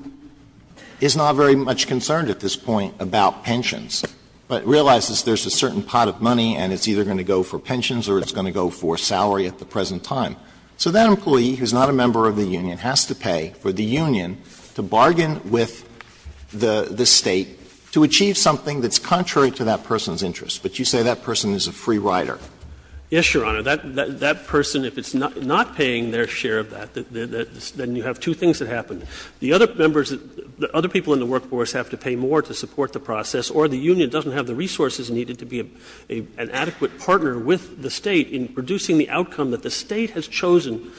is not very much concerned at this point about pensions, but realizes there's a certain pot of money and it's either going to go for pensions or it's going to go for salary at the present time? So that employee, who's not a member of the union, has to pay for the union to bargain with the State to achieve something that's contrary to that person's interest. But you say that person is a free rider. Yes, Your Honor. That person, if it's not paying their share of that, then you have two things that happen. The other members, the other people in the workforce have to pay more to support the process, or the union doesn't have the resources needed to be an adequate partner with the State in producing the outcome that the State has chosen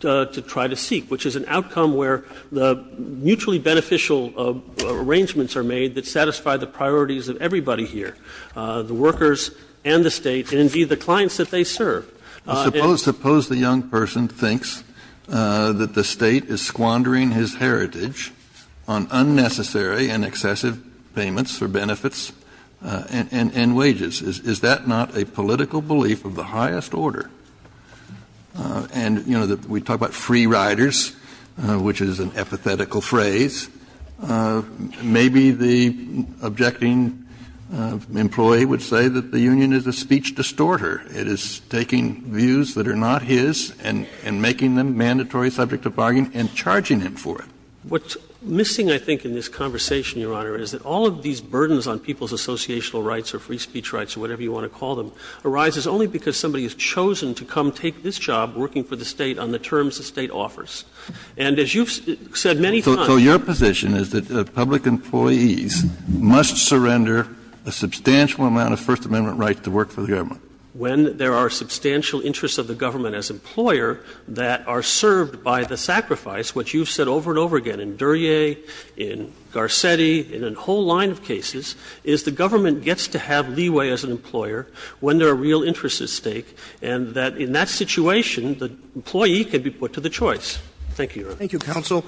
to try to And so there are very beneficial arrangements are made that satisfy the priorities of everybody here, the workers and the State, and indeed the clients that they serve. Suppose the young person thinks that the State is squandering his heritage on unnecessary and excessive payments for benefits and wages. Is that not a political belief of the highest order? And, you know, we talk about free riders, which is an epithetical phrase. Maybe the objecting employee would say that the union is a speech distorter. It is taking views that are not his and making them mandatory subject of bargain and charging him for it. What's missing, I think, in this conversation, Your Honor, is that all of these burdens on people's associational rights or free speech rights or whatever you want to call them arises only because somebody has chosen to come take this job working for the State on the terms the State offers. And as you've said many times Kennedy, so your position is that public employees must surrender a substantial amount of First Amendment rights to work for the government? When there are substantial interests of the government as employer that are served by the sacrifice, which you've said over and over again in Duryea, in Garcetti, in a whole line of cases, is the government gets to have leeway as an employer when there are real interests at stake, and that in that situation the employee can be put to the choice. Thank you, Your Honor. Thank you, counsel.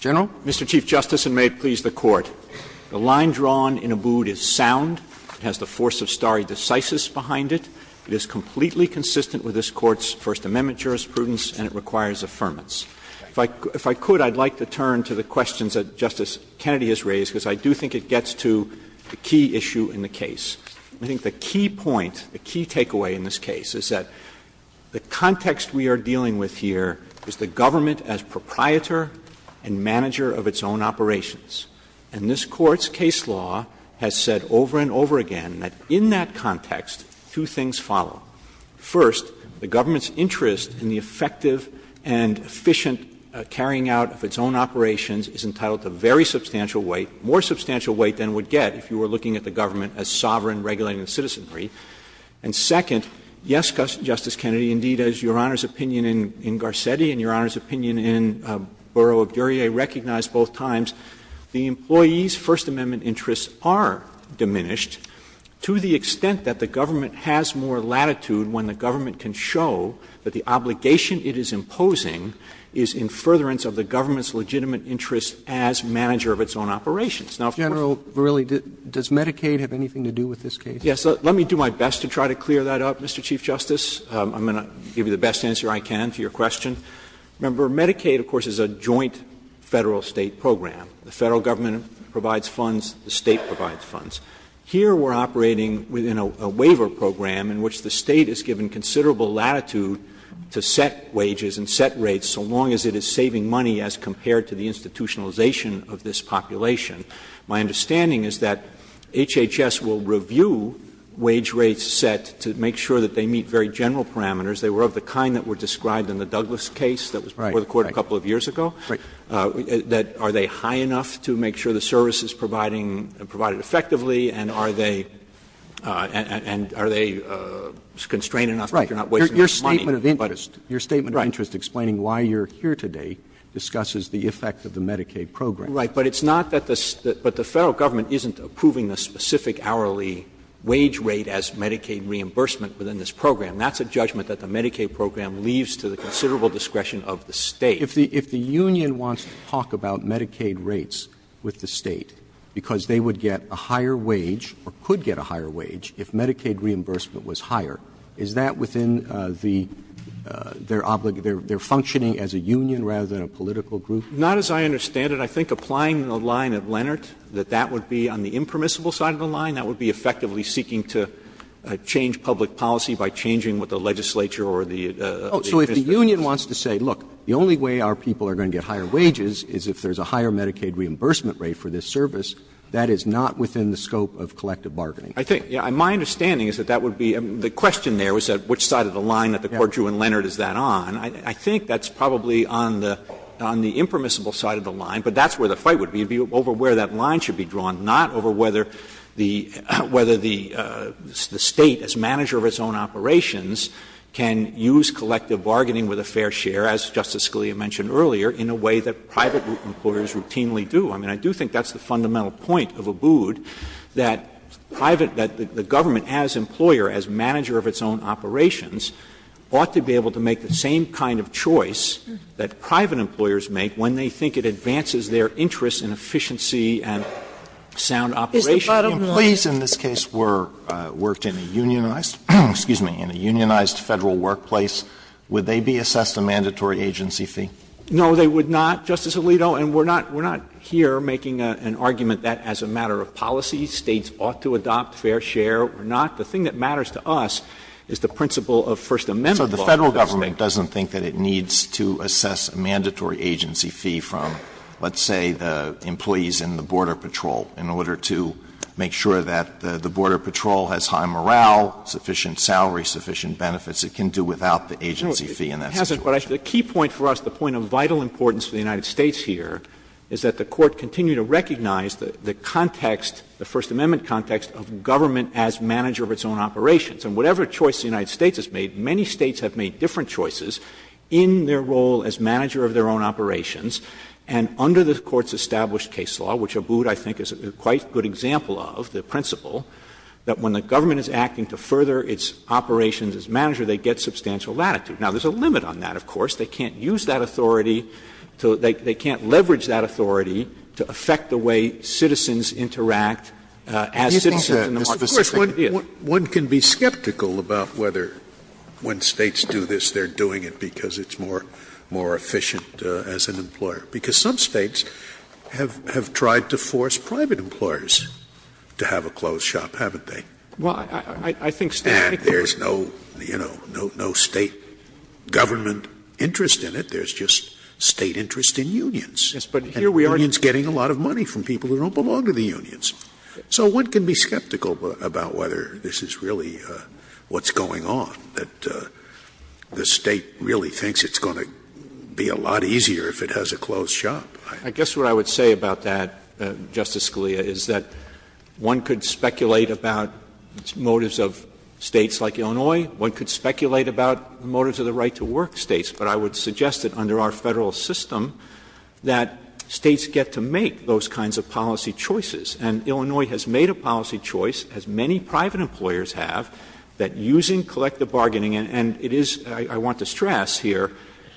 General. Mr. Chief Justice, and may it please the Court. The line drawn in Abood is sound. It has the force of stare decisis behind it. It is completely consistent with this Court's First Amendment jurisprudence and it requires affirmance. If I could, I'd like to turn to the questions that Justice Kennedy has raised, because I do think it gets to the key issue in the case. I think the key point, the key takeaway in this case is that the context we are dealing with here is the government as proprietor and manager of its own operations. And this Court's case law has said over and over again that in that context, two things follow. First, the government's interest in the effective and efficient carrying out of its own operations is entitled to very substantial weight, more substantial weight than would get if you were looking at the government as sovereign, regulated and citizenry. And second, yes, Justice Kennedy, indeed, as Your Honor's opinion in Garcetti and Your Honor's opinion in Bureau of Duryea recognized both times, the employee's First Amendment interests are diminished to the extent that the government has more latitude when the government can show that the obligation it is imposing is in furtherance of the government's legitimate interest as manager of its own operations. weight than would get if you were looking at the government as sovereign, regulated and citizenry. Robertson, does Medicaid have anything to do with this case? Verrilli, let me do my best to try to clear that up, Mr. Chief Justice. I'm going to give you the best answer I can to your question. Remember, Medicaid, of course, is a joint Federal-State program. The Federal government provides funds, the State provides funds. Here we are operating within a waiver program in which the State is given considerable latitude to set wages and set rates so long as it is saving money as compared to the institutionalization of this population. My understanding is that HHS will review wage rates set to make sure that they meet the very general parameters, they were of the kind that were described in the Douglass case that was before the Court a couple of years ago, that are they high enough to make sure the service is providing, provided effectively, and are they, and are they constrained enough that you're not wasting money. Roberts, your statement of interest explaining why you're here today discusses the effect of the Medicaid program. Right. But it's not that the Federal government isn't approving the specific hourly wage rate as Medicaid reimbursement within this program. That's a judgment that the Medicaid program leaves to the considerable discretion of the State. If the union wants to talk about Medicaid rates with the State because they would get a higher wage or could get a higher wage if Medicaid reimbursement was higher, is that within the, they're functioning as a union rather than a political group? Not as I understand it. I think applying the line of Leonard, that that would be on the impermissible side of the line. That would be effectively seeking to change public policy by changing what the legislature or the administration is. Roberts, so if the union wants to say, look, the only way our people are going to get higher wages is if there's a higher Medicaid reimbursement rate for this service, that is not within the scope of collective bargaining? I think, my understanding is that that would be, the question there was which side of the line that the Court drew in Leonard is that on. I think that's probably on the impermissible side of the line, but that's where the fight would be. It would be over where that line should be drawn, not over whether the State, as manager of its own operations, can use collective bargaining with a fair share, as Justice Scalia mentioned earlier, in a way that private employers routinely do. I mean, I do think that's the fundamental point of Abood, that private, that the government as employer, as manager of its own operations, ought to be able to make the same kind of choice that private employers make when they think it advances their interests in efficiency and sound operation. Sotomayor, in this case, were worked in a unionized, excuse me, in a unionized Federal workplace, would they be assessed a mandatory agency fee? No, they would not, Justice Alito, and we're not here making an argument that as a matter of policy, States ought to adopt fair share or not. The thing that matters to us is the principle of First Amendment law. So the Federal government doesn't think that it needs to assess a mandatory agency fee from, let's say, the employees in the Border Patrol in order to make sure that the Border Patrol has high morale, sufficient salary, sufficient benefits. It can do without the agency fee in that situation. Roberts. Verrilli, but the key point for us, the point of vital importance for the United States here, is that the Court continued to recognize the context, the First Amendment context, of government as manager of its own operations. And whatever choice the United States has made, many States have made different choices in their role as manager of their own operations. And under the Court's established case law, which Abood, I think, is a quite good example of, the principle, that when the government is acting to further its operations as manager, they get substantial latitude. Now, there's a limit on that, of course. They can't use that authority to – they can't leverage that authority to affect the way citizens interact as citizens in the most specific areas. Scalia, one can be skeptical about whether when States do this, they're doing it because it's more efficient as an employer, because some States have tried to force private employers to have a closed shop, haven't they? Verrilli, I think State – Scalia, and there's no, you know, no State government interest in it. There's just State interest in unions. Verrilli, yes, but here we are – Scalia, and unions getting a lot of money from people who don't belong to the unions. So one can be skeptical about whether this is really what's going on, that the State really thinks it's going to be a lot easier if it has a closed shop. Verrilli, I guess what I would say about that, Justice Scalia, is that one could speculate about motives of States like Illinois. One could speculate about the motives of the right-to-work States. But I would suggest that under our Federal system that States get to make those kinds of policy choices. And Illinois has made a policy choice, as many private employers have, that using collective bargaining – and it is, I want to stress here,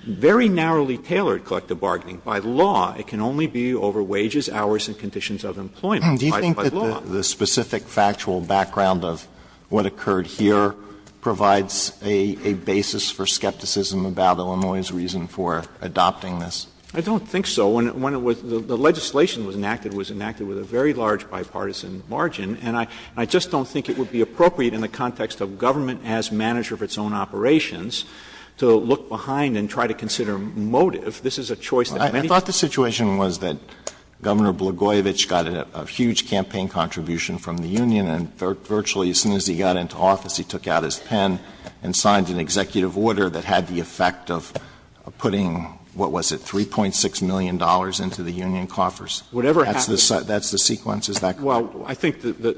very narrowly tailored collective bargaining. By law, it can only be over wages, hours, and conditions of employment. By law. Alito, do you think that the specific factual background of what occurred here provides a basis for skepticism about Illinois' reason for adopting this? Verrilli, I don't think so. When it was – the legislation was enacted, it was enacted with a very large bipartisan margin, and I just don't think it would be appropriate in the context of government as manager of its own operations to look behind and try to consider motive. This is a choice that many people have made. Alito, I thought the situation was that Governor Blagojevich got a huge campaign contribution from the union, and virtually as soon as he got into office, he took out his pen and signed an executive order that had the effect of putting, what was it, $3.6 million into the union coffers. Verrilli, whatever happened to it? That's the sequence? Is that correct? Well, I think the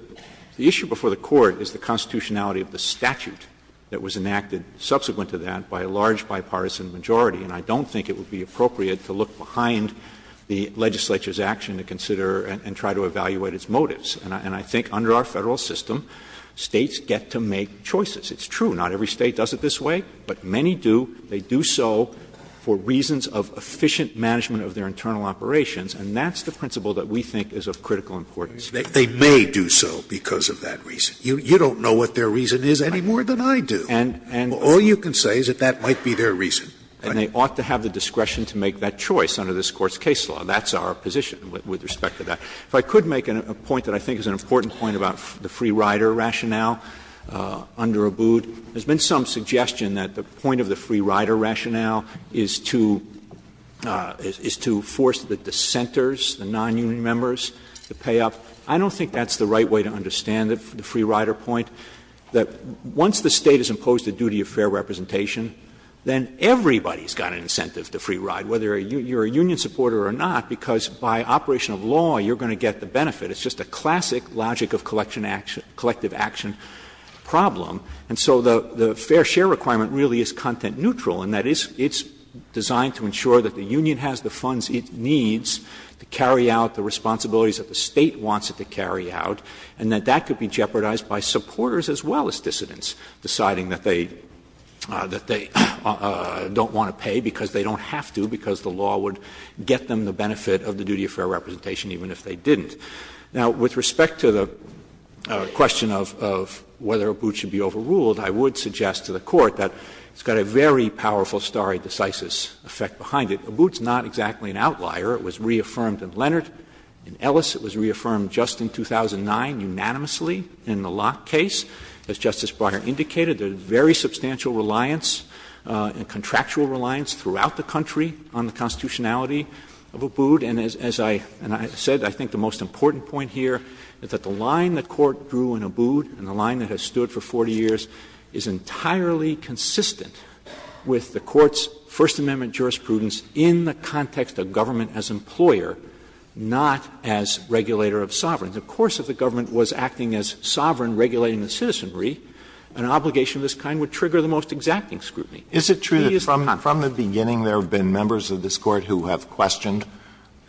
issue before the Court is the constitutionality of the statute that was enacted subsequent to that by a large bipartisan majority, and I don't think it would be appropriate to look behind the legislature's action to consider and try to evaluate its motives. And I think under our Federal system, States get to make choices. It's true, not every State does it this way, but many do. They do so for reasons of efficient management of their internal operations, and that's the principle that we think is of critical importance. Scalia, they may do so because of that reason. You don't know what their reason is any more than I do. And all you can say is that that might be their reason. And they ought to have the discretion to make that choice under this Court's case law. That's our position with respect to that. If I could make a point that I think is an important point about the free rider rationale under Abood, there has been some suggestion that the point of the free rider rationale is to force the dissenters, the nonunion members, to pay up. I don't think that's the right way to understand the free rider point, that once the State has imposed the duty of fair representation, then everybody's got an incentive to free ride, whether you're a union supporter or not, because by operation of law you're going to get the benefit. It's just a classic logic of collection action, collective action problem. And so the fair share requirement really is content neutral, and that is it's designed to ensure that the union has the funds it needs to carry out the responsibilities that the State wants it to carry out, and that that could be jeopardized by supporters as well as dissidents deciding that they don't want to pay because they don't have to, because the law would get them the benefit of the duty of fair representation even if they didn't. Now, with respect to the question of whether Abood should be overruled, I would suggest to the Court that it's got a very powerful stare decisis effect behind it. Abood is not exactly an outlier. It was reaffirmed in Leonard. In Ellis it was reaffirmed just in 2009 unanimously in the Locke case. As Justice Breyer indicated, there is very substantial reliance and contractual reliance throughout the country on the constitutionality of Abood. And as I said, I think the most important point here is that the line the Court drew in Abood and the line that has stood for 40 years is entirely consistent with the Court's First Amendment jurisprudence in the context of government as employer, not as regulator of sovereigns. Of course, if the government was acting as sovereign regulating the citizenry, an obligation of this kind would trigger the most exacting scrutiny. Alitoso, is it true that from the beginning there have been members of this Court who have questioned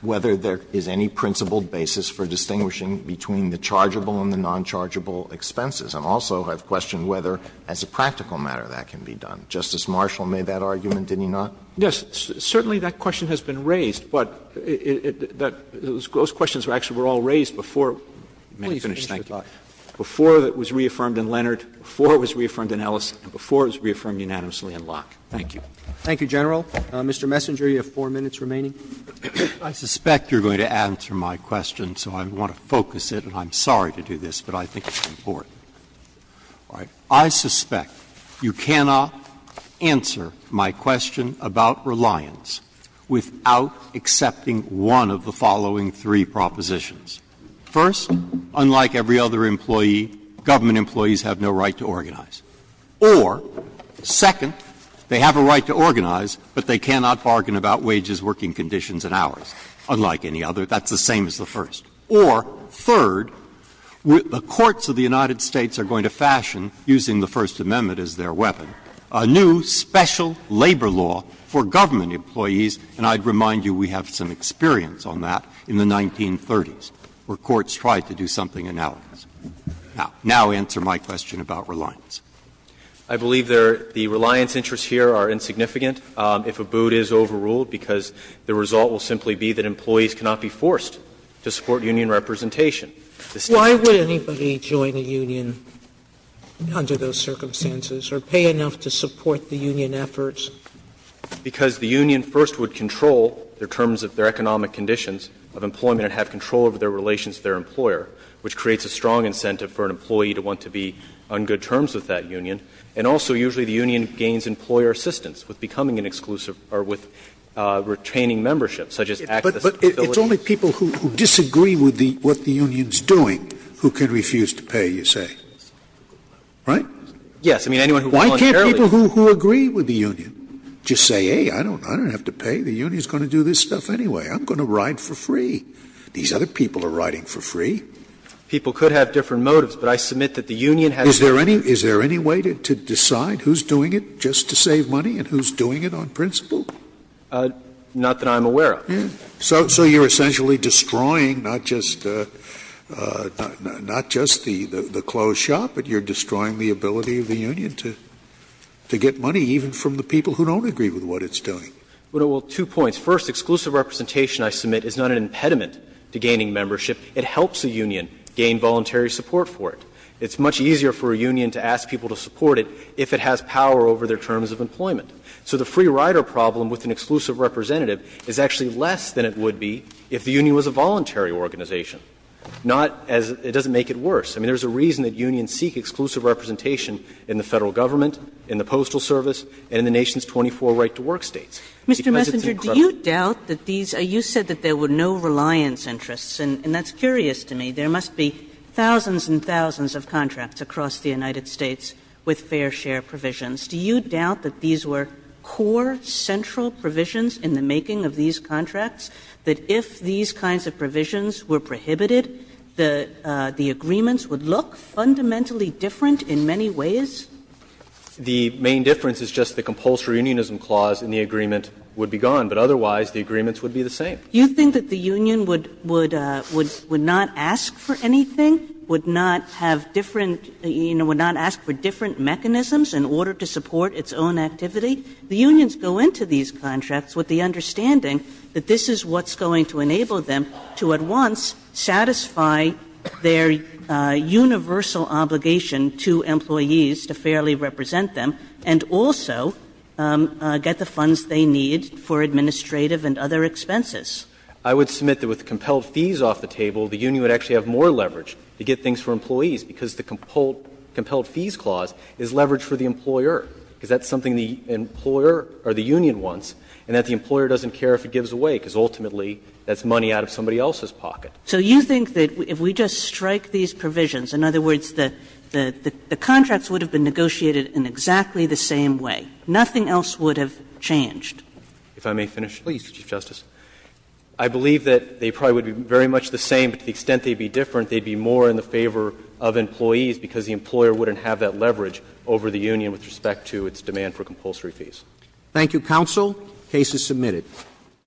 whether there is any principled basis for distinguishing between the chargeable and the nonchargeable expenses, and also have questioned whether, as a practical matter, that can be done? Justice Marshall made that argument, didn't he not? Verrilli, Yes, certainly that question has been raised, but it was those questions were actually all raised before it was reaffirmed in Leonard, before it was reaffirmed in Ellis, and before it was reaffirmed unanimously in Locke. Thank you. Roberts, Thank you, General. Mr. Messenger, you have 4 minutes remaining. Messenger, I suspect you're going to answer my question, so I want to focus it, and I'm sorry to do this, but I think it's important. I suspect you cannot answer my question about reliance without accepting one of the following three propositions. First, unlike every other employee, government employees have no right to organize. Or, second, they have a right to organize, but they cannot bargain about wages, working conditions, and hours. Unlike any other, that's the same as the first. Or, third, the courts of the United States are going to fashion, using the First Amendment as their weapon, a new special labor law for government employees, and I'd remind you we have some experience on that in the 1930s, where courts tried to do something analogous. Now, answer my question about reliance. I believe the reliance interests here are insignificant if a boot is overruled, because the result will simply be that employees cannot be forced to support union representation. Sotomayor, Why would anybody join a union under those circumstances or pay enough to support the union efforts? Messenger, because the union first would control the terms of their economic conditions of employment and have control over their relations to their employer, which creates a strong incentive for an employee to want to be on good terms with that union. And also, usually the union gains employer assistance with becoming an exclusive or with retaining membership, such as access to facilities. Scalia, but it's only people who disagree with what the union is doing who can refuse to pay, you say. Right? Messenger, Yes. I mean, anyone who voluntarily agrees. Scalia, Why can't people who agree with the union just say, hey, I don't have to pay. The union is going to do this stuff anyway. I'm going to ride for free. These other people are riding for free. Messenger, People could have different motives, but I submit that the union has to pay. Scalia, Is there any way to decide who's doing it just to save money and who's doing it on principle? Messenger, Not that I'm aware of. Scalia, So you're essentially destroying not just the closed shop, but you're destroying the ability of the union to get money even from the people who don't agree with what it's doing. Messenger, Well, two points. First, exclusive representation, I submit, is not an impediment to gaining membership. It helps a union gain voluntary support for it. It's much easier for a union to ask people to support it if it has power over their terms of employment. So the free rider problem with an exclusive representative is actually less than it would be if the union was a voluntary organization, not as it doesn't make it worse. I mean, there's a reason that unions seek exclusive representation in the Federal Government, in the Postal Service, and in the nation's 24 right-to-work states. Because it's an incredible thing. Kagan, Do you doubt that these are you said that there were no reliance interests? And that's curious to me. There must be thousands and thousands of contracts across the United States with fair share provisions. Do you doubt that these were core central provisions in the making of these contracts, that if these kinds of provisions were prohibited, the agreements would look fundamentally different in many ways? Messenger, The main difference is just the compulsory unionism clause and the agreement would be gone. But otherwise, the agreements would be the same. Kagan, Do you think that the union would not ask for anything, would not have different you know, would not ask for different mechanisms in order to support its own activity? The unions go into these contracts with the understanding that this is what's going to enable them to at once satisfy their universal obligation to employees to fairly represent them and also get the funds they need for administrative and other expenses. Messenger, I would submit that with compelled fees off the table, the union would actually have more leverage to get things for employees, because the compelled fees clause is leverage for the employer, because that's something the employer or the union wants, and that the employer doesn't care if it gives away, because ultimately, that's money out of somebody else's pocket. Kagan, So you think that if we just strike these provisions, in other words, the contracts would have been negotiated in exactly the same way, nothing else would have changed? If I may finish? Please, Chief Justice. I believe that they probably would be very much the same, but to the extent they'd be different, they'd be more in the favor of employees, because the employer wouldn't have that leverage over the union with respect to its demand for compulsory fees. Thank you, counsel. The case is submitted.